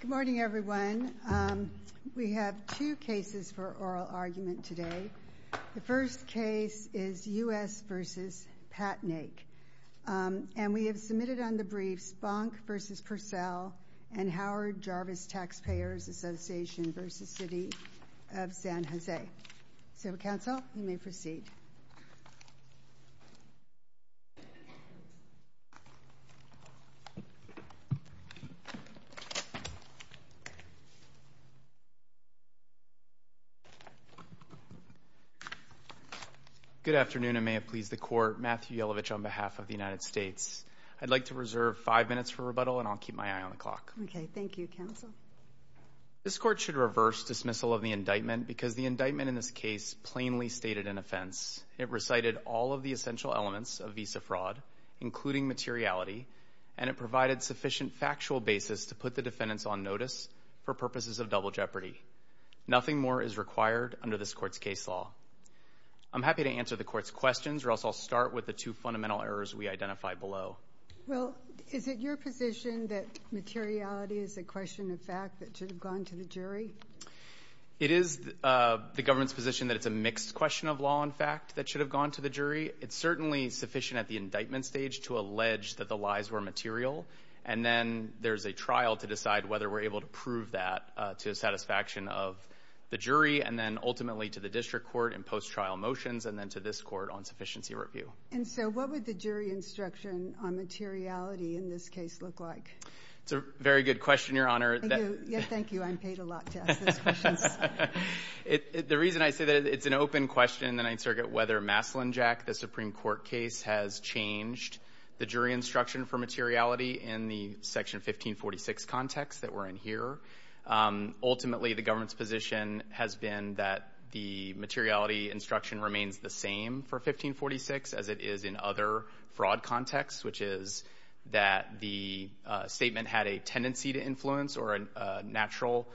Good morning, everyone. We have two cases for oral argument today. The first case is U.S. v. Patnaik, and we have submitted on the briefs Bonk v. Purcell and Howard Jarvis Taxpayers Association v. City of San Jose. So, counsel, you may proceed. Good afternoon, and may it please the Court. Matthew Yellovich on behalf of the United States. I'd like to reserve five minutes for rebuttal, and I'll keep my eye on the clock. Okay. Thank you, counsel. This Court should reverse dismissal of the indictment because the indictment in this case plainly stated an offense. It recited all of the essential elements of visa fraud, including materiality, and it provided sufficient factual basis to put the defendants on notice for purposes of double jeopardy. Nothing more is required under this Court's case law. I'm happy to answer the Court's questions, or else I'll start with the two fundamental errors we identified below. Well, is it your position that materiality is a question of fact that should have gone to the jury? It is the government's position that it's a mixed question of law and fact that should have gone to the jury. It's certainly sufficient at the indictment stage to allege that the lies were material, and then there's a trial to decide whether we're able to prove that to the satisfaction of the jury, and then ultimately to the district court in post-trial motions, and then to this Court on sufficiency review. And so what would the jury instruction on materiality in this case look like? It's a very good question, Your Honor. Thank you. I'm paid a lot to ask those questions. The reason I say that is it's an open question in the Ninth Circuit whether Maslin Jack, the Supreme Court case, has changed the jury instruction for materiality in the Section 1546 context that we're in here. Ultimately, the government's position has been that the materiality instruction remains the same for 1546 as it is in other fraud contexts, which is that the statement had a tendency to influence or a natural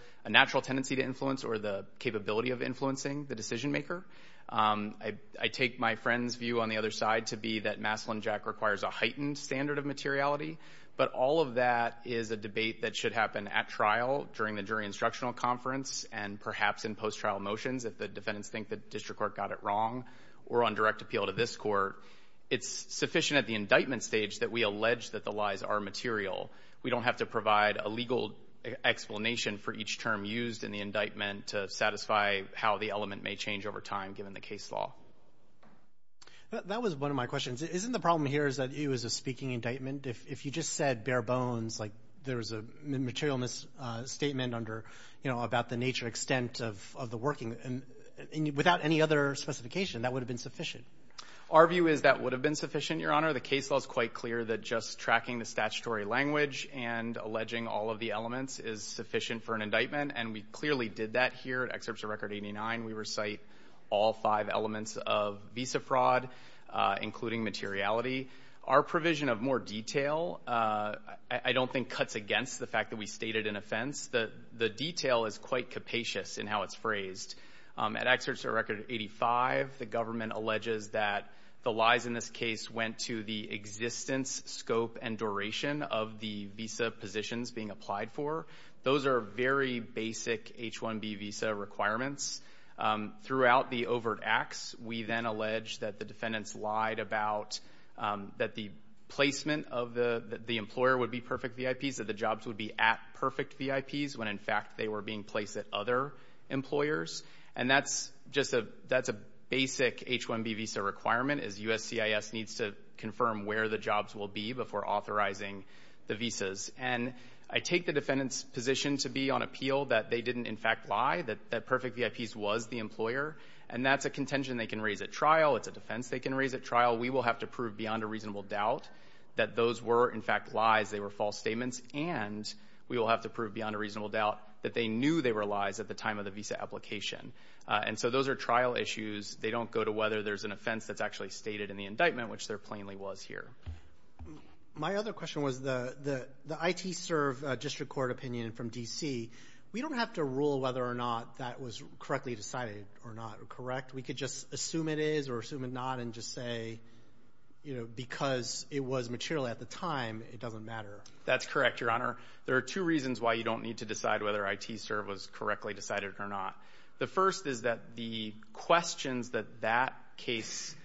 tendency to influence or the capability of influencing the decision-maker. I take my friend's view on the other side to be that Maslin Jack requires a heightened standard of materiality, but all of that is a debate that should happen at trial during the jury instructional conference and perhaps in post-trial motions if the defendants think the district court got it wrong or on direct appeal to this court. It's sufficient at the indictment stage that we allege that the lies are material. We don't have to provide a legal explanation for each term used in the indictment to satisfy how the element may change over time given the case law. That was one of my questions. Isn't the problem here is that it was a speaking indictment? If you just said bare bones, like there was a material misstatement under, you know, about the nature, extent of the working, without any other specification that would have been sufficient. Our view is that would have been sufficient, Your Honor. The case law is quite clear that just tracking the statutory language and alleging all of the elements is sufficient for an indictment, and we clearly did that here at Excerpts of Record 89. We recite all five elements of visa fraud, including materiality. Our provision of more detail I don't think cuts against the fact that we stated an offense. The detail is quite capacious in how it's phrased. At Excerpts of Record 85, the government alleges that the lies in this case went to the existence, scope, and duration of the visa positions being applied for. Those are very basic H-1B visa requirements. Throughout the overt acts, we then allege that the defendants lied about that the placement of the employer would be perfect VIPs, that the jobs would be at perfect VIPs when, in fact, they were being placed at other employers. And that's just a basic H-1B visa requirement is USCIS needs to confirm where the jobs will be before authorizing the visas. And I take the defendants' position to be on appeal that they didn't, in fact, lie, that perfect VIPs was the employer, and that's a contention they can raise at trial. It's a defense they can raise at trial. We will have to prove beyond a reasonable doubt that those were, in fact, lies. They were false statements. And we will have to prove beyond a reasonable doubt that they knew they were lies at the time of the visa application. And so those are trial issues. They don't go to whether there's an offense that's actually stated in the indictment, which there plainly was here. My other question was the ITSERV district court opinion from D.C. We don't have to rule whether or not that was correctly decided or not correct. We could just assume it is or assume it not and just say, you know, because it was material at the time, it doesn't matter. That's correct, Your Honor. There are two reasons why you don't need to decide whether ITSERV was correctly decided or not. The first is that the questions that that case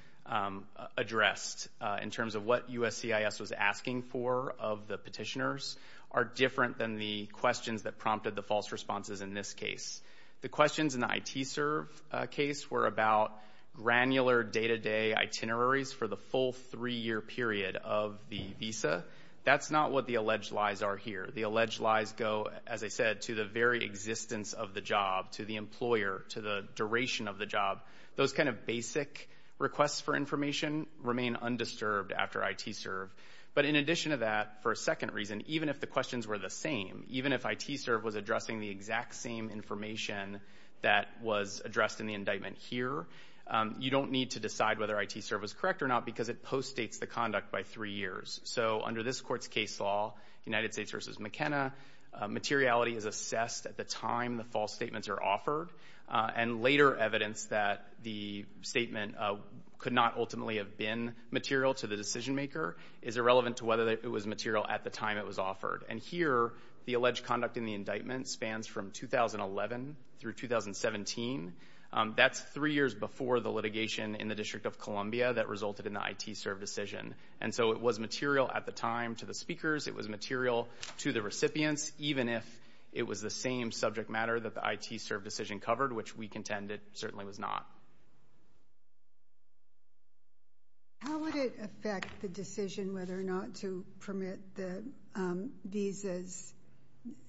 addressed in terms of what USCIS was asking for of the petitioners are different than the questions that prompted the false responses in this case. The questions in the ITSERV case were about granular day-to-day itineraries for the full three-year period of the visa. That's not what the alleged lies are here. The alleged lies go, as I said, to the very existence of the job, to the employer, to the duration of the job. Those kind of basic requests for information remain undisturbed after ITSERV. But in addition to that, for a second reason, even if the questions were the same, even if ITSERV was addressing the exact same information that was addressed in the indictment here, you don't need to decide whether ITSERV was correct or not because it postdates the conduct by three years. So under this Court's case law, United States v. McKenna, materiality is assessed at the time the false statements are offered. And later evidence that the statement could not ultimately have been material to the decision maker is irrelevant to whether it was material at the time it was offered. And here, the alleged conduct in the indictment spans from 2011 through 2017. That's three years before the litigation in the District of Columbia that resulted in the ITSERV decision. And so it was material at the time to the speakers. It was material to the recipients, even if it was the same subject matter that the ITSERV decision covered, which we contend it certainly was not. How would it affect the decision whether or not to permit the visas?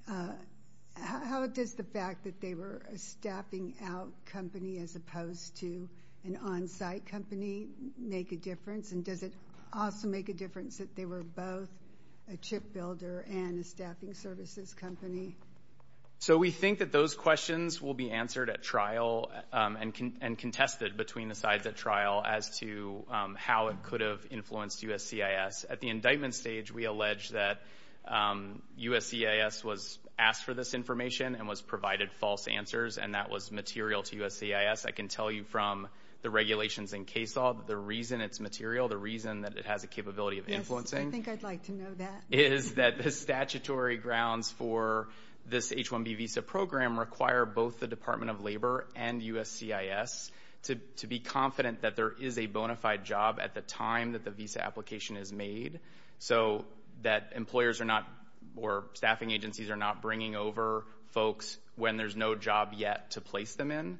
How does the fact that they were a staffing out company as opposed to an on-site company make a difference? And does it also make a difference that they were both a chip builder and a staffing services company? So we think that those questions will be answered at trial and contested between the sides at trial as to how it could have influenced USCIS. At the indictment stage, we allege that USCIS was asked for this information and was provided false answers, and that was material to USCIS. I can tell you from the regulations in CAESAW that the reason it's material, the reason that it has a capability of influencing — Yes, I think I'd like to know that. — is that the statutory grounds for this H-1B visa program require both the Department of Labor and USCIS to be confident that there is a bona fide job at the time that the visa application is made, so that employers are not — or staffing agencies are not bringing over folks when there's no job yet to place them in.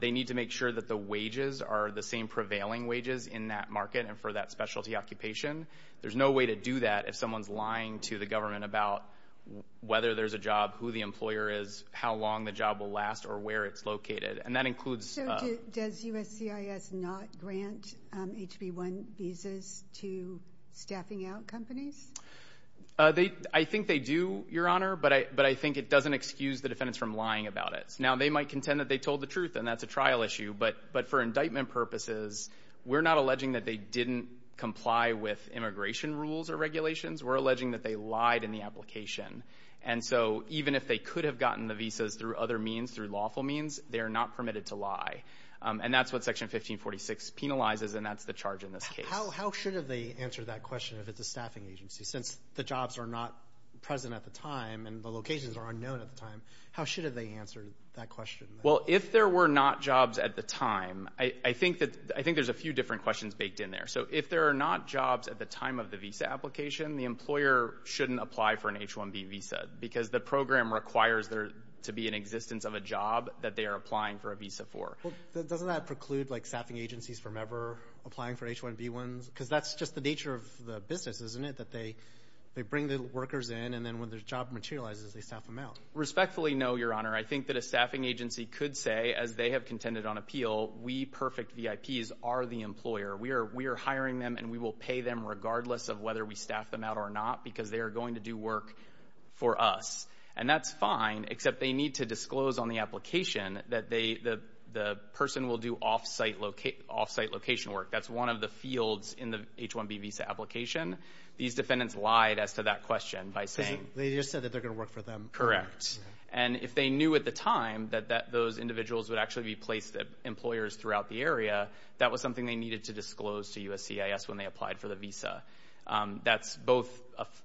They need to make sure that the wages are the same prevailing wages in that market and for that specialty occupation. There's no way to do that if someone's lying to the government about whether there's a job, who the employer is, how long the job will last, or where it's located. And that includes — So does USCIS not grant H-B-1 visas to staffing out companies? I think they do, Your Honor, but I think it doesn't excuse the defendants from lying about it. Now, they might contend that they told the truth, and that's a trial issue, but for indictment purposes, we're not alleging that they didn't comply with immigration rules or regulations. We're alleging that they lied in the application. And so even if they could have gotten the visas through other means, through lawful means, they are not permitted to lie. And that's what Section 1546 penalizes, and that's the charge in this case. How should they answer that question if it's a staffing agency? Since the jobs are not present at the time and the locations are unknown at the time, how should they answer that question? Well, if there were not jobs at the time, I think that — I think there's a few different questions baked in there. So if there are not jobs at the time of the visa application, the employer shouldn't apply for an H-1B visa because the program requires there to be an existence of a job that they are applying for a visa for. Well, doesn't that preclude, like, staffing agencies from ever applying for H-1B ones? Because that's just the nature of the business, isn't it, that they bring the workers in, and then when the job materializes, they staff them out? Respectfully, no, Your Honor. I think that a staffing agency could say, as they have contended on appeal, we perfect VIPs are the employer. We are hiring them, and we will pay them regardless of whether we staff them out or not because they are going to do work for us. And that's fine, except they need to disclose on the application that the person will do off-site location work. That's one of the fields in the H-1B visa application. These defendants lied as to that question by saying — They just said that they're going to work for them. Correct. And if they knew at the time that those individuals would actually be placed employers throughout the area, that was something they needed to disclose to USCIS when they applied for the visa. That's both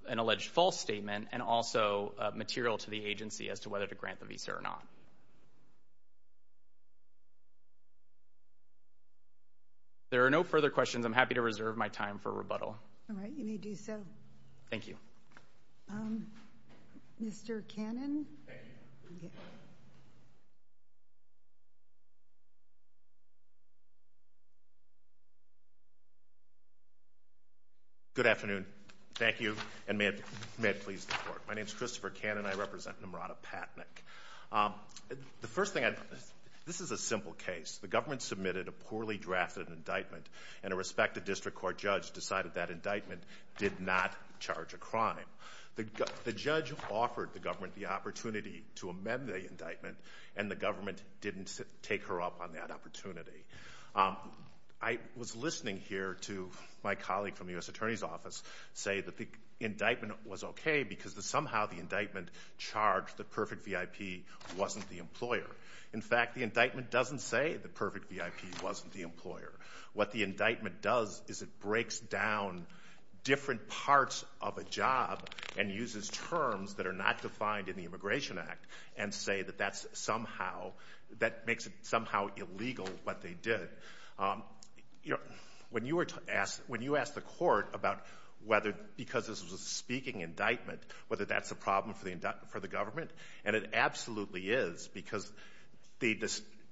an alleged false statement and also material to the agency as to whether to grant the visa or not. If there are no further questions, I'm happy to reserve my time for rebuttal. All right. You may do so. Thank you. Mr. Cannon? Good afternoon. Thank you, and may it please the Court. My name is Christopher Cannon. I represent Nimrata Patnik. The first thing I'd—this is a simple case. The government submitted a poorly drafted indictment, and a respected district court judge decided that indictment did not charge a crime. The judge offered the government the opportunity to amend the indictment, and the government didn't take her up on that opportunity. I was listening here to my colleague from the U.S. Attorney's Office say that the indictment was okay because somehow the indictment charged the perfect VIP wasn't the employer. In fact, the indictment doesn't say the perfect VIP wasn't the employer. What the indictment does is it breaks down different parts of a job and uses terms that are not defined in the Immigration Act and say that that's somehow—that makes it somehow illegal what they did. When you asked the court about whether, because this was a speaking indictment, whether that's a problem for the government, and it absolutely is because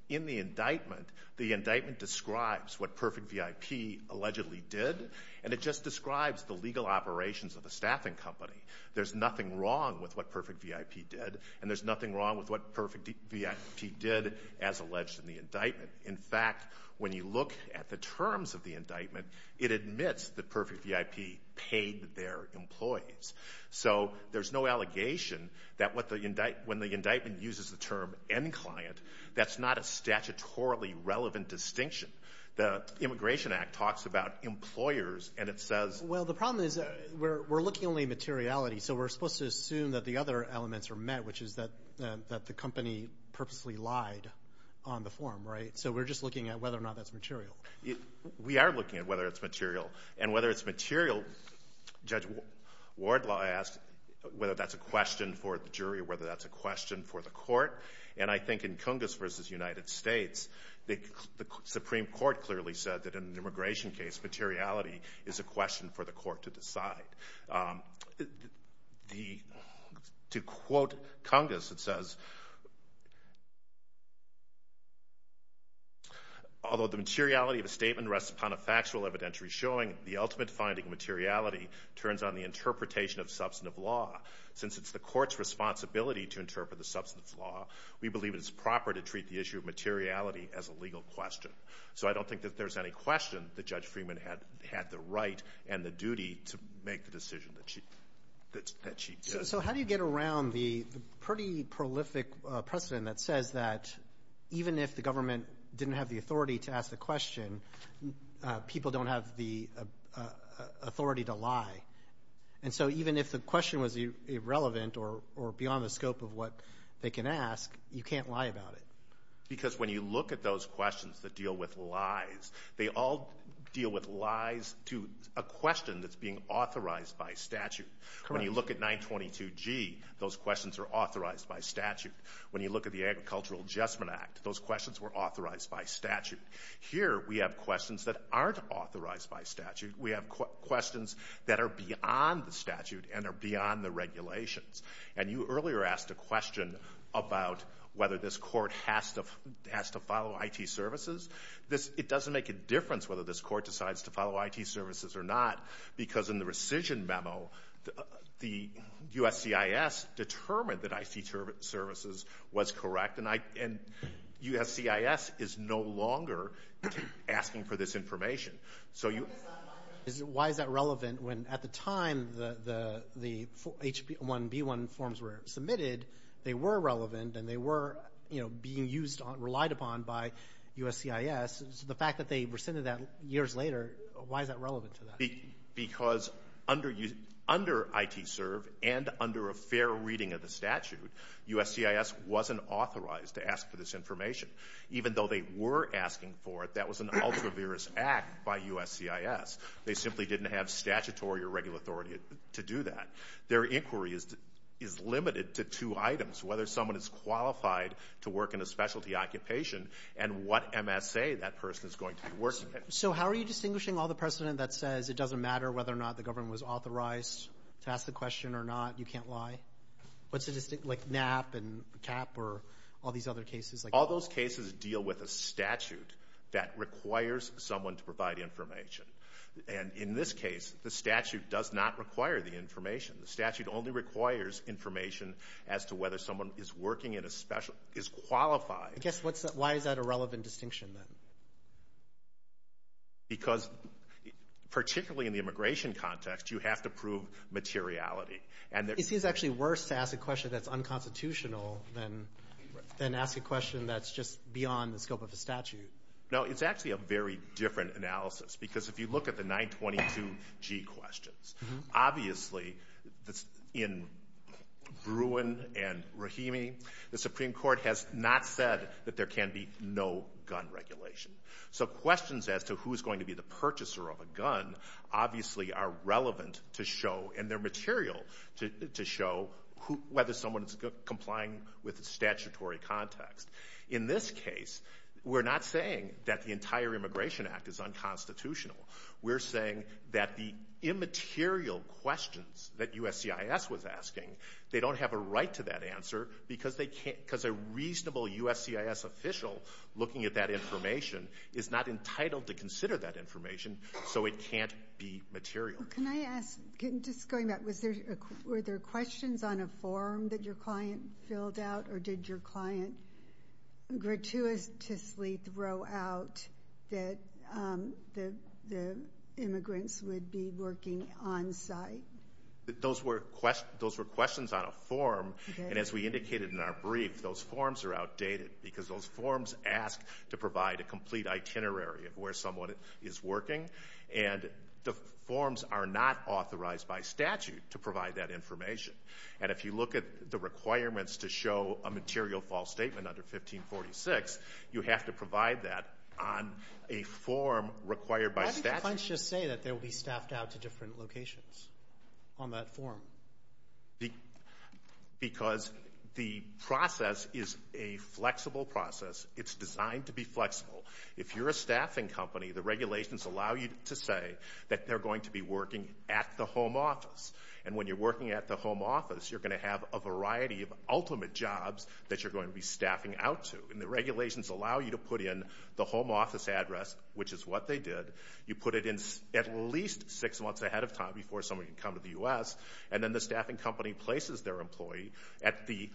in the indictment, the indictment describes what perfect VIP allegedly did, and it just describes the legal operations of the staffing company. There's nothing wrong with what perfect VIP did, and there's nothing wrong with what perfect VIP did as alleged in the indictment. In fact, when you look at the terms of the indictment, it admits that perfect VIP paid their employees. So there's no allegation that when the indictment uses the term end client, that's not a statutorily relevant distinction. The Immigration Act talks about employers, and it says— Well, the problem is we're looking only at materiality, so we're supposed to assume that the other elements are met, which is that the company purposely lied on the form, right? So we're just looking at whether or not that's material. We are looking at whether it's material, and whether it's material, Judge Wardlaw asked whether that's a question for the jury or whether that's a question for the court, and I think in Cungas v. United States, the Supreme Court clearly said that in an immigration case, materiality is a question for the court to decide. To quote Cungas, it says, although the materiality of a statement rests upon a factual evidentiary showing, the ultimate finding of materiality turns on the interpretation of substantive law. Since it's the court's responsibility to interpret the substantive law, we believe it is proper to treat the issue of materiality as a legal question. So I don't think that there's any question that Judge Freeman had the right and the duty to make the decision that she did. So how do you get around the pretty prolific precedent that says that even if the government didn't have the authority to ask the question, people don't have the authority to lie, and so even if the question was irrelevant or beyond the scope of what they can ask, you can't lie about it? Because when you look at those questions that deal with lies, they all deal with lies to a question that's being authorized by statute. Correct. When you look at 922G, those questions are authorized by statute. When you look at the Agricultural Adjustment Act, those questions were authorized by statute. Here we have questions that aren't authorized by statute. We have questions that are beyond the statute and are beyond the regulations. And you earlier asked a question about whether this court has to follow IT services. It doesn't make a difference whether this court decides to follow IT services or not because in the rescission memo, the USCIS determined that IT services was correct, and USCIS is no longer asking for this information. Why is that relevant when at the time the H-1B1 forms were submitted, they were relevant and they were, you know, being relied upon by USCIS? The fact that they rescinded that years later, why is that relevant to that? Because under ITSERV and under a fair reading of the statute, USCIS wasn't authorized to ask for this information. Even though they were asking for it, that was an ultraviarious act by USCIS. They simply didn't have statutory or regular authority to do that. Their inquiry is limited to two items, whether someone is qualified to work in a specialty occupation and what MSA that person is going to be working in. So how are you distinguishing all the precedent that says it doesn't matter whether or not the government was authorized to ask the question or not, you can't lie? What's the distinction, like NAP and CAP or all these other cases? All those cases deal with a statute that requires someone to provide information. And in this case, the statute does not require the information. The statute only requires information as to whether someone is working in a specialty, is qualified. I guess why is that a relevant distinction then? Because particularly in the immigration context, you have to prove materiality. It seems actually worse to ask a question that's unconstitutional than ask a question that's just beyond the scope of the statute. No, it's actually a very different analysis. Because if you look at the 922G questions, obviously in Bruin and Rahimi, the Supreme Court has not said that there can be no gun regulation. So questions as to who is going to be the purchaser of a gun obviously are relevant to show and they're material to show whether someone is complying with the statutory context. In this case, we're not saying that the entire Immigration Act is unconstitutional. We're saying that the immaterial questions that USCIS was asking, they don't have a right to that answer because a reasonable USCIS official looking at that information is not entitled to consider that information so it can't be material. Can I ask, just going back, were there questions on a form that your client filled out or did your client gratuitously throw out that the immigrants would be working on-site? Those were questions on a form, and as we indicated in our brief, those forms are outdated because those forms ask to provide a complete itinerary of where someone is working, and the forms are not authorized by statute to provide that information. And if you look at the requirements to show a material false statement under 1546, you have to provide that on a form required by statute. Why didn't the clients just say that they would be staffed out to different locations on that form? Because the process is a flexible process. It's designed to be flexible. If you're a staffing company, the regulations allow you to say that they're going to be working at the home office, and when you're working at the home office, you're going to have a variety of ultimate jobs that you're going to be staffing out to. And the regulations allow you to put in the home office address, which is what they did. You put it in at least six months ahead of time before someone can come to the U.S., and then the staffing company places their employee at the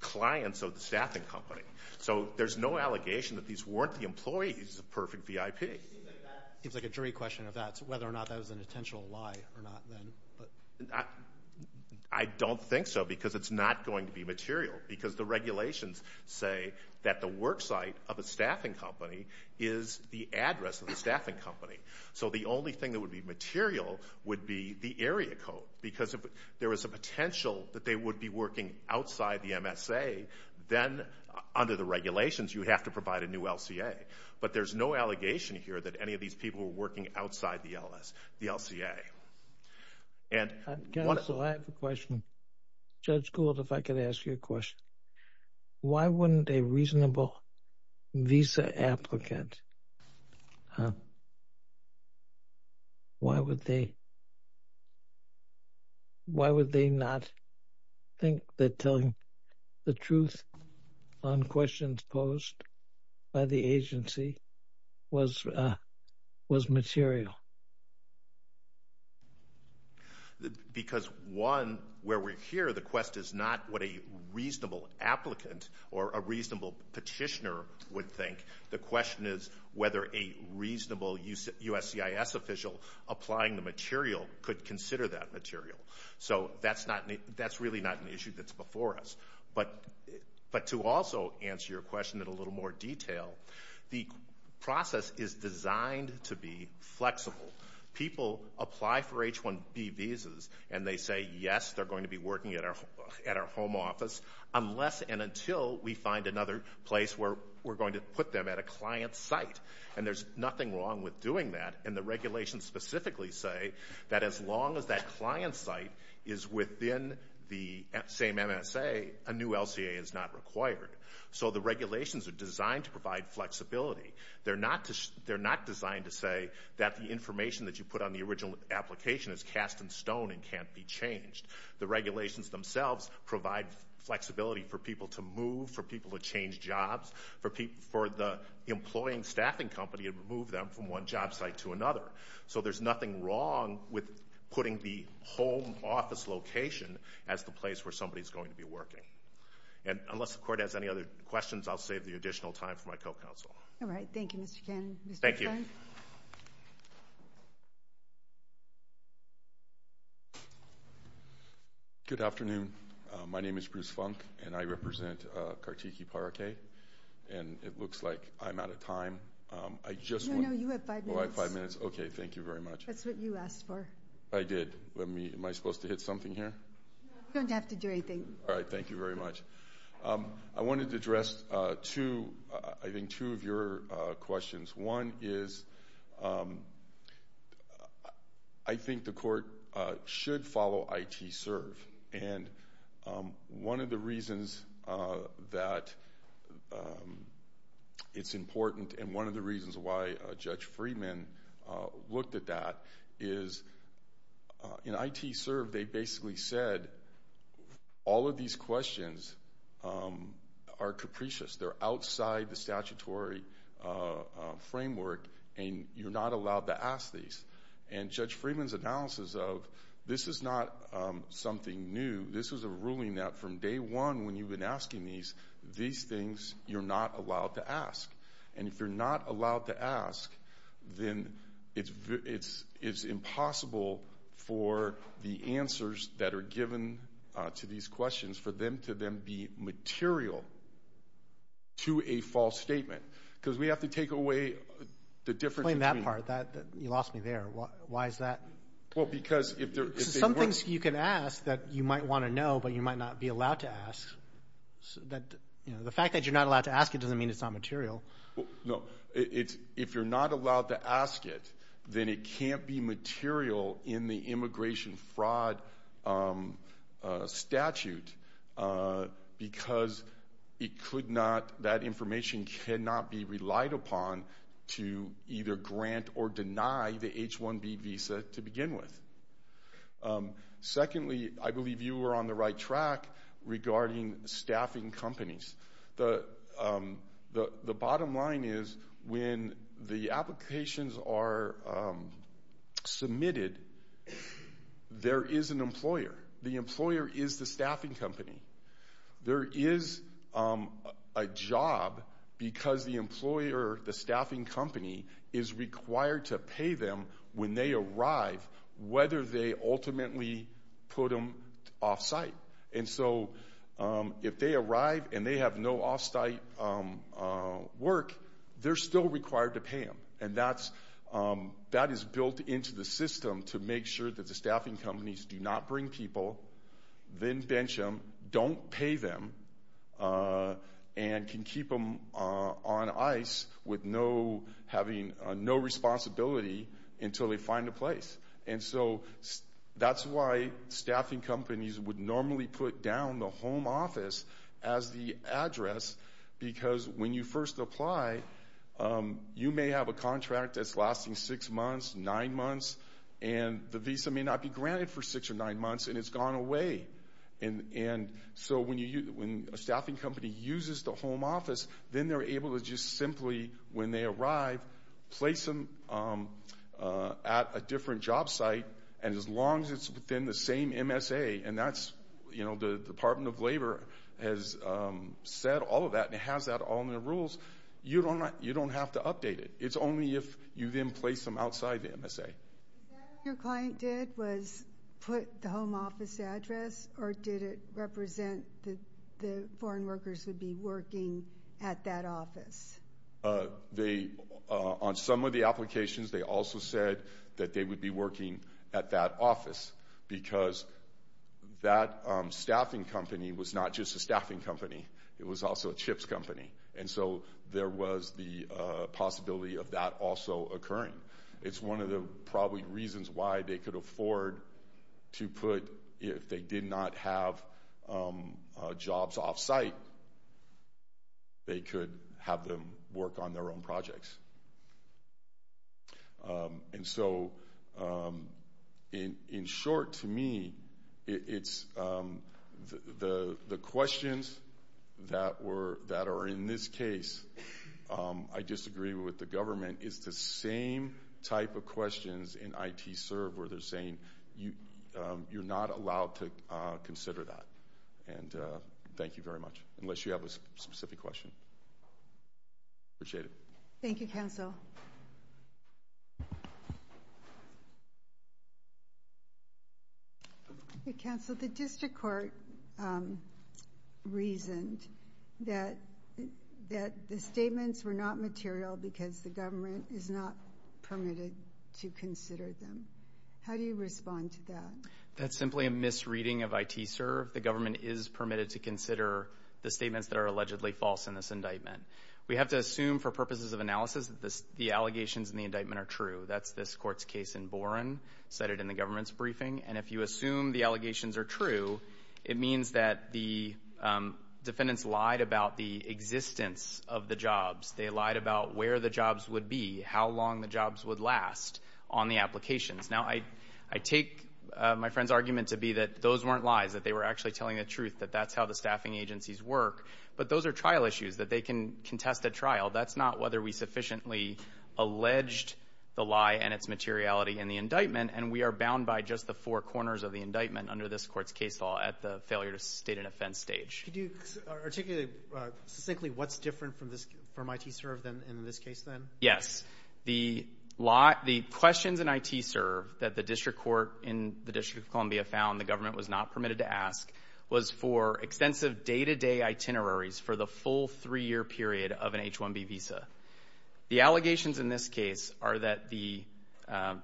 clients of the staffing company. So there's no allegation that these weren't the employees of Perfect VIP. It seems like a jury question of that, whether or not that was an intentional lie or not then. I don't think so because it's not going to be material because the regulations say that the work site of a staffing company is the address of the staffing company. So the only thing that would be material would be the area code because if there was a potential that they would be working outside the MSA, then under the regulations you would have to provide a new LCA. But there's no allegation here that any of these people were working outside the LCA. Counsel, I have a question. Judge Gould, if I could ask you a question. Why wouldn't a reasonable visa applicant, why would they not think that telling the truth on questions posed by the agency was material? Because one, where we're here, the question is not what a reasonable applicant or a reasonable petitioner would think. The question is whether a reasonable USCIS official applying the material could consider that material. So that's really not an issue that's before us. But to also answer your question in a little more detail, the process is designed to be flexible. People apply for H-1B visas and they say, yes, they're going to be working at our home office unless and until we find another place where we're going to put them at a client's site. And there's nothing wrong with doing that. And the regulations specifically say that as long as that client's site is within the same MSA, a new LCA is not required. So the regulations are designed to provide flexibility. They're not designed to say that the information that you put on the original application is cast in stone and can't be changed. The regulations themselves provide flexibility for people to move, for people to change jobs, for the employing staffing company to move them from one job site to another. So there's nothing wrong with putting the home office location as the place where somebody is going to be working. And unless the Court has any other questions, I'll save the additional time for my co-counsel. All right. Thank you, Mr. Cannon. Thank you. Good afternoon. My name is Bruce Funk, and I represent Kartiki Parakeh. And it looks like I'm out of time. No, no, you have five minutes. Oh, I have five minutes. Okay, thank you very much. That's what you asked for. I did. Am I supposed to hit something here? You don't have to do anything. All right. Thank you very much. I wanted to address, I think, two of your questions. One is I think the Court should follow ITSERV. And one of the reasons that it's important and one of the reasons why Judge Freeman looked at that is in ITSERV they basically said all of these questions are capricious. They're outside the statutory framework, and you're not allowed to ask these. And Judge Freeman's analysis of this is not something new. This is a ruling that from day one when you've been asking these, these things you're not allowed to ask. And if you're not allowed to ask, then it's impossible for the answers that are given to these questions, for them to then be material to a false statement. Because we have to take away the difference between... Explain that part. You lost me there. Why is that? Well, because if they're... Some things you can ask that you might want to know but you might not be allowed to ask. The fact that you're not allowed to ask it doesn't mean it's not material. No. If you're not allowed to ask it, then it can't be material in the immigration fraud statute because it could not... That information cannot be relied upon to either grant or deny the H-1B visa to begin with. Secondly, I believe you were on the right track regarding staffing companies. The bottom line is when the applications are submitted, there is an employer. The employer is the staffing company. There is a job because the employer, the staffing company, is required to pay them when they arrive, whether they ultimately put them off-site. If they arrive and they have no off-site work, they're still required to pay them. That is built into the system to make sure that the staffing companies do not bring people, then bench them, don't pay them, and can keep them on ice with having no responsibility until they find a place. That's why staffing companies would normally put down the home office as the address because when you first apply, you may have a contract that's lasting six months, nine months, and the visa may not be granted for six or nine months, and it's gone away. So when a staffing company uses the home office, then they're able to just simply, when they arrive, place them at a different job site, and as long as it's within the same MSA, and the Department of Labor has said all of that and has that all in their rules, you don't have to update it. It's only if you then place them outside the MSA. Is that what your client did, was put the home office address, or did it represent that the foreign workers would be working at that office? On some of the applications, they also said that they would be working at that office because that staffing company was not just a staffing company. It was also a chips company, and so there was the possibility of that also occurring. It's one of the probably reasons why they could afford to put, if they did not have jobs off-site, they could have them work on their own projects. And so, in short, to me, it's the questions that are in this case, I disagree with the government, it's the same type of questions in ITServe where they're saying, you're not allowed to consider that. Thank you very much, unless you have a specific question. Appreciate it. Thank you, counsel. Counsel, the district court reasoned that the statements were not material because the government is not permitted to consider them. How do you respond to that? That's simply a misreading of ITServe. The government is permitted to consider the statements that are allegedly false in this indictment. We have to assume for purposes of analysis that the allegations in the indictment are true. That's this court's case in Boren, cited in the government's briefing. And if you assume the allegations are true, it means that the defendants lied about the existence of the jobs. They lied about where the jobs would be, how long the jobs would last on the applications. Now, I take my friend's argument to be that those weren't lies, that they were actually telling the truth, that that's how the staffing agencies work. But those are trial issues that they can contest at trial. That's not whether we sufficiently alleged the lie and its materiality in the indictment. And we are bound by just the four corners of the indictment under this court's case law at the failure to state an offense stage. Could you articulate succinctly what's different from ITServe in this case, then? Yes. The questions in ITServe that the district court in the District of Columbia found the government was not permitted to ask was for extensive day-to-day itineraries for the full three-year period of an H-1B visa. The allegations in this case are that the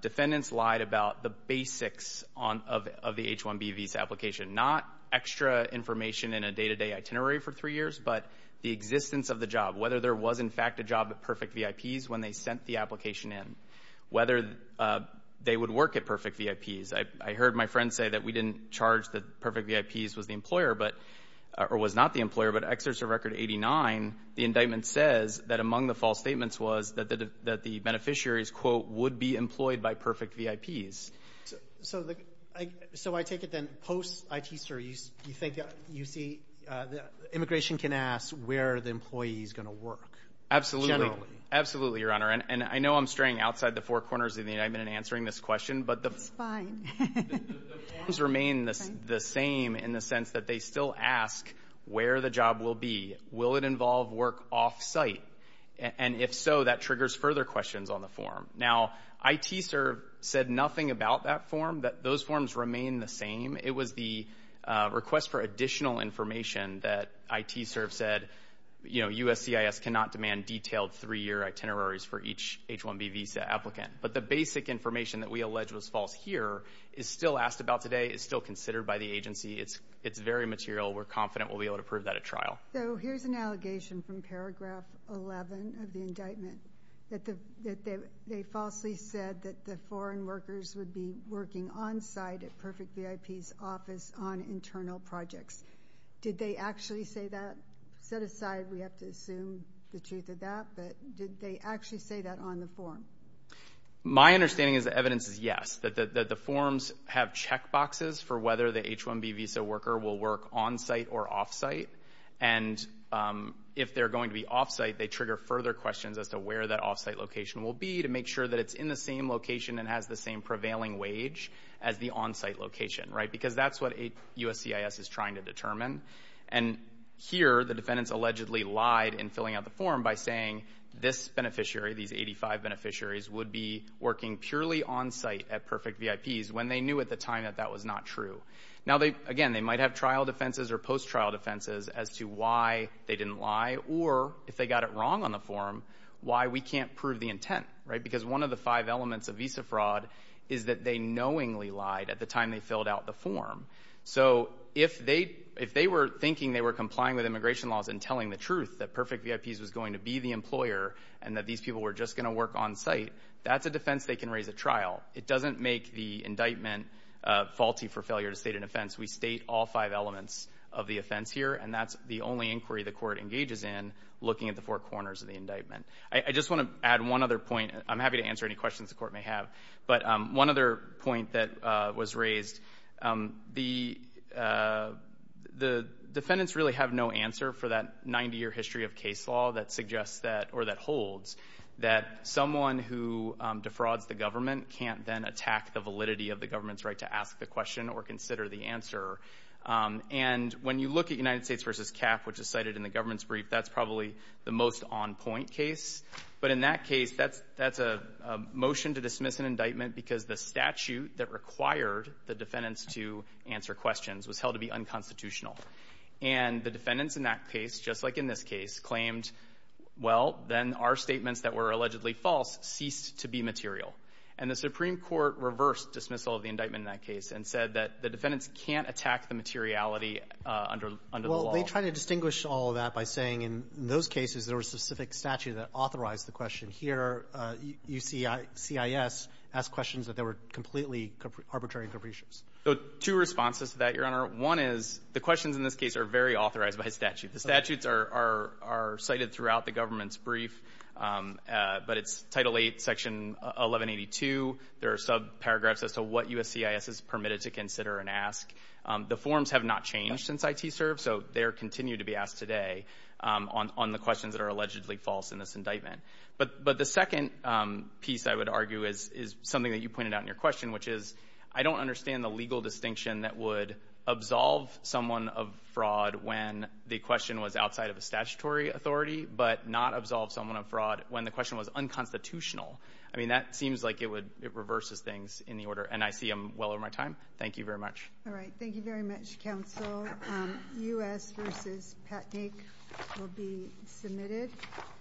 defendants lied about the basics of the H-1B visa application, not extra information in a day-to-day itinerary for three years, but the existence of the job, whether there was, in fact, a job at Perfect VIPs when they sent the application in, whether they would work at Perfect VIPs. I heard my friend say that we didn't charge that Perfect VIPs was the employer or was not the employer. But exerts of Record 89, the indictment says that among the false statements was that the beneficiaries, quote, would be employed by Perfect VIPs. So I take it then post-ITServe, you think you see immigration can ask where the employee is going to work generally. Absolutely, Your Honor. And I know I'm straying outside the four corners of the indictment in answering this question. That's fine. The forms remain the same in the sense that they still ask where the job will be. Will it involve work off-site? And if so, that triggers further questions on the form. Now, ITServe said nothing about that form, that those forms remain the same. It was the request for additional information that ITServe said, you know, USCIS cannot demand detailed three-year itineraries for each H-1B visa applicant. But the basic information that we allege was false here is still asked about today, is still considered by the agency. It's very material. We're confident we'll be able to prove that at trial. So here's an allegation from paragraph 11 of the indictment, that they falsely said that the foreign workers would be working on-site at Perfect VIP's office on internal projects. Did they actually say that? Set aside, we have to assume the truth of that, but did they actually say that on the form? My understanding is the evidence is yes, that the forms have checkboxes for whether the H-1B visa worker will work on-site or off-site. And if they're going to be off-site, they trigger further questions as to where that off-site location will be to make sure that it's in the same location and has the same prevailing wage as the on-site location, right? Because that's what USCIS is trying to determine. And here, the defendants allegedly lied in filling out the form by saying this beneficiary, these 85 beneficiaries, would be working purely on-site at Perfect VIP's when they knew at the time that that was not true. Now, again, they might have trial defenses or post-trial defenses as to why they didn't lie or, if they got it wrong on the form, why we can't prove the intent, right? Because one of the five elements of visa fraud is that they knowingly lied at the time they filled out the form. So if they were thinking they were complying with immigration laws and telling the truth that Perfect VIP's was going to be the employer and that these people were just going to work on-site, that's a defense they can raise at trial. It doesn't make the indictment faulty for failure to state an offense. We state all five elements of the offense here, and that's the only inquiry the court engages in looking at the four corners of the indictment. I just want to add one other point. I'm happy to answer any questions the court may have. But one other point that was raised, the defendants really have no answer for that 90-year history of case law that suggests that or that holds that someone who defrauds the government can't then attack the validity of the government's right to ask the question or consider the answer. And when you look at United States v. CAF, which is cited in the government's brief, that's probably the most on-point case. But in that case, that's a motion to dismiss an indictment because the statute that required the defendants to answer questions was held to be unconstitutional. And the defendants in that case, just like in this case, claimed, well, then our statements that were allegedly false ceased to be material. And the Supreme Court reversed dismissal of the indictment in that case and said that the defendants can't attack the materiality under the law. Well, they try to distinguish all of that by saying in those cases there was a specific statute that authorized the question. Here, USCIS asked questions that were completely arbitrary and capricious. Two responses to that, Your Honor. One is the questions in this case are very authorized by statute. The statutes are cited throughout the government's brief, but it's Title VIII, Section 1182. There are subparagraphs as to what USCIS is permitted to consider and ask. The forms have not changed since ITSERV, so they continue to be asked today on the questions that are allegedly false in this indictment. But the second piece, I would argue, is something that you pointed out in your question, which is I don't understand the legal distinction that would absolve someone of fraud when the question was outside of a statutory authority but not absolve someone of fraud when the question was unconstitutional. I mean, that seems like it reverses things in the order, and I see them well over my time. Thank you very much. All right. Thank you very much, counsel. U.S. v. Patnick will be submitted.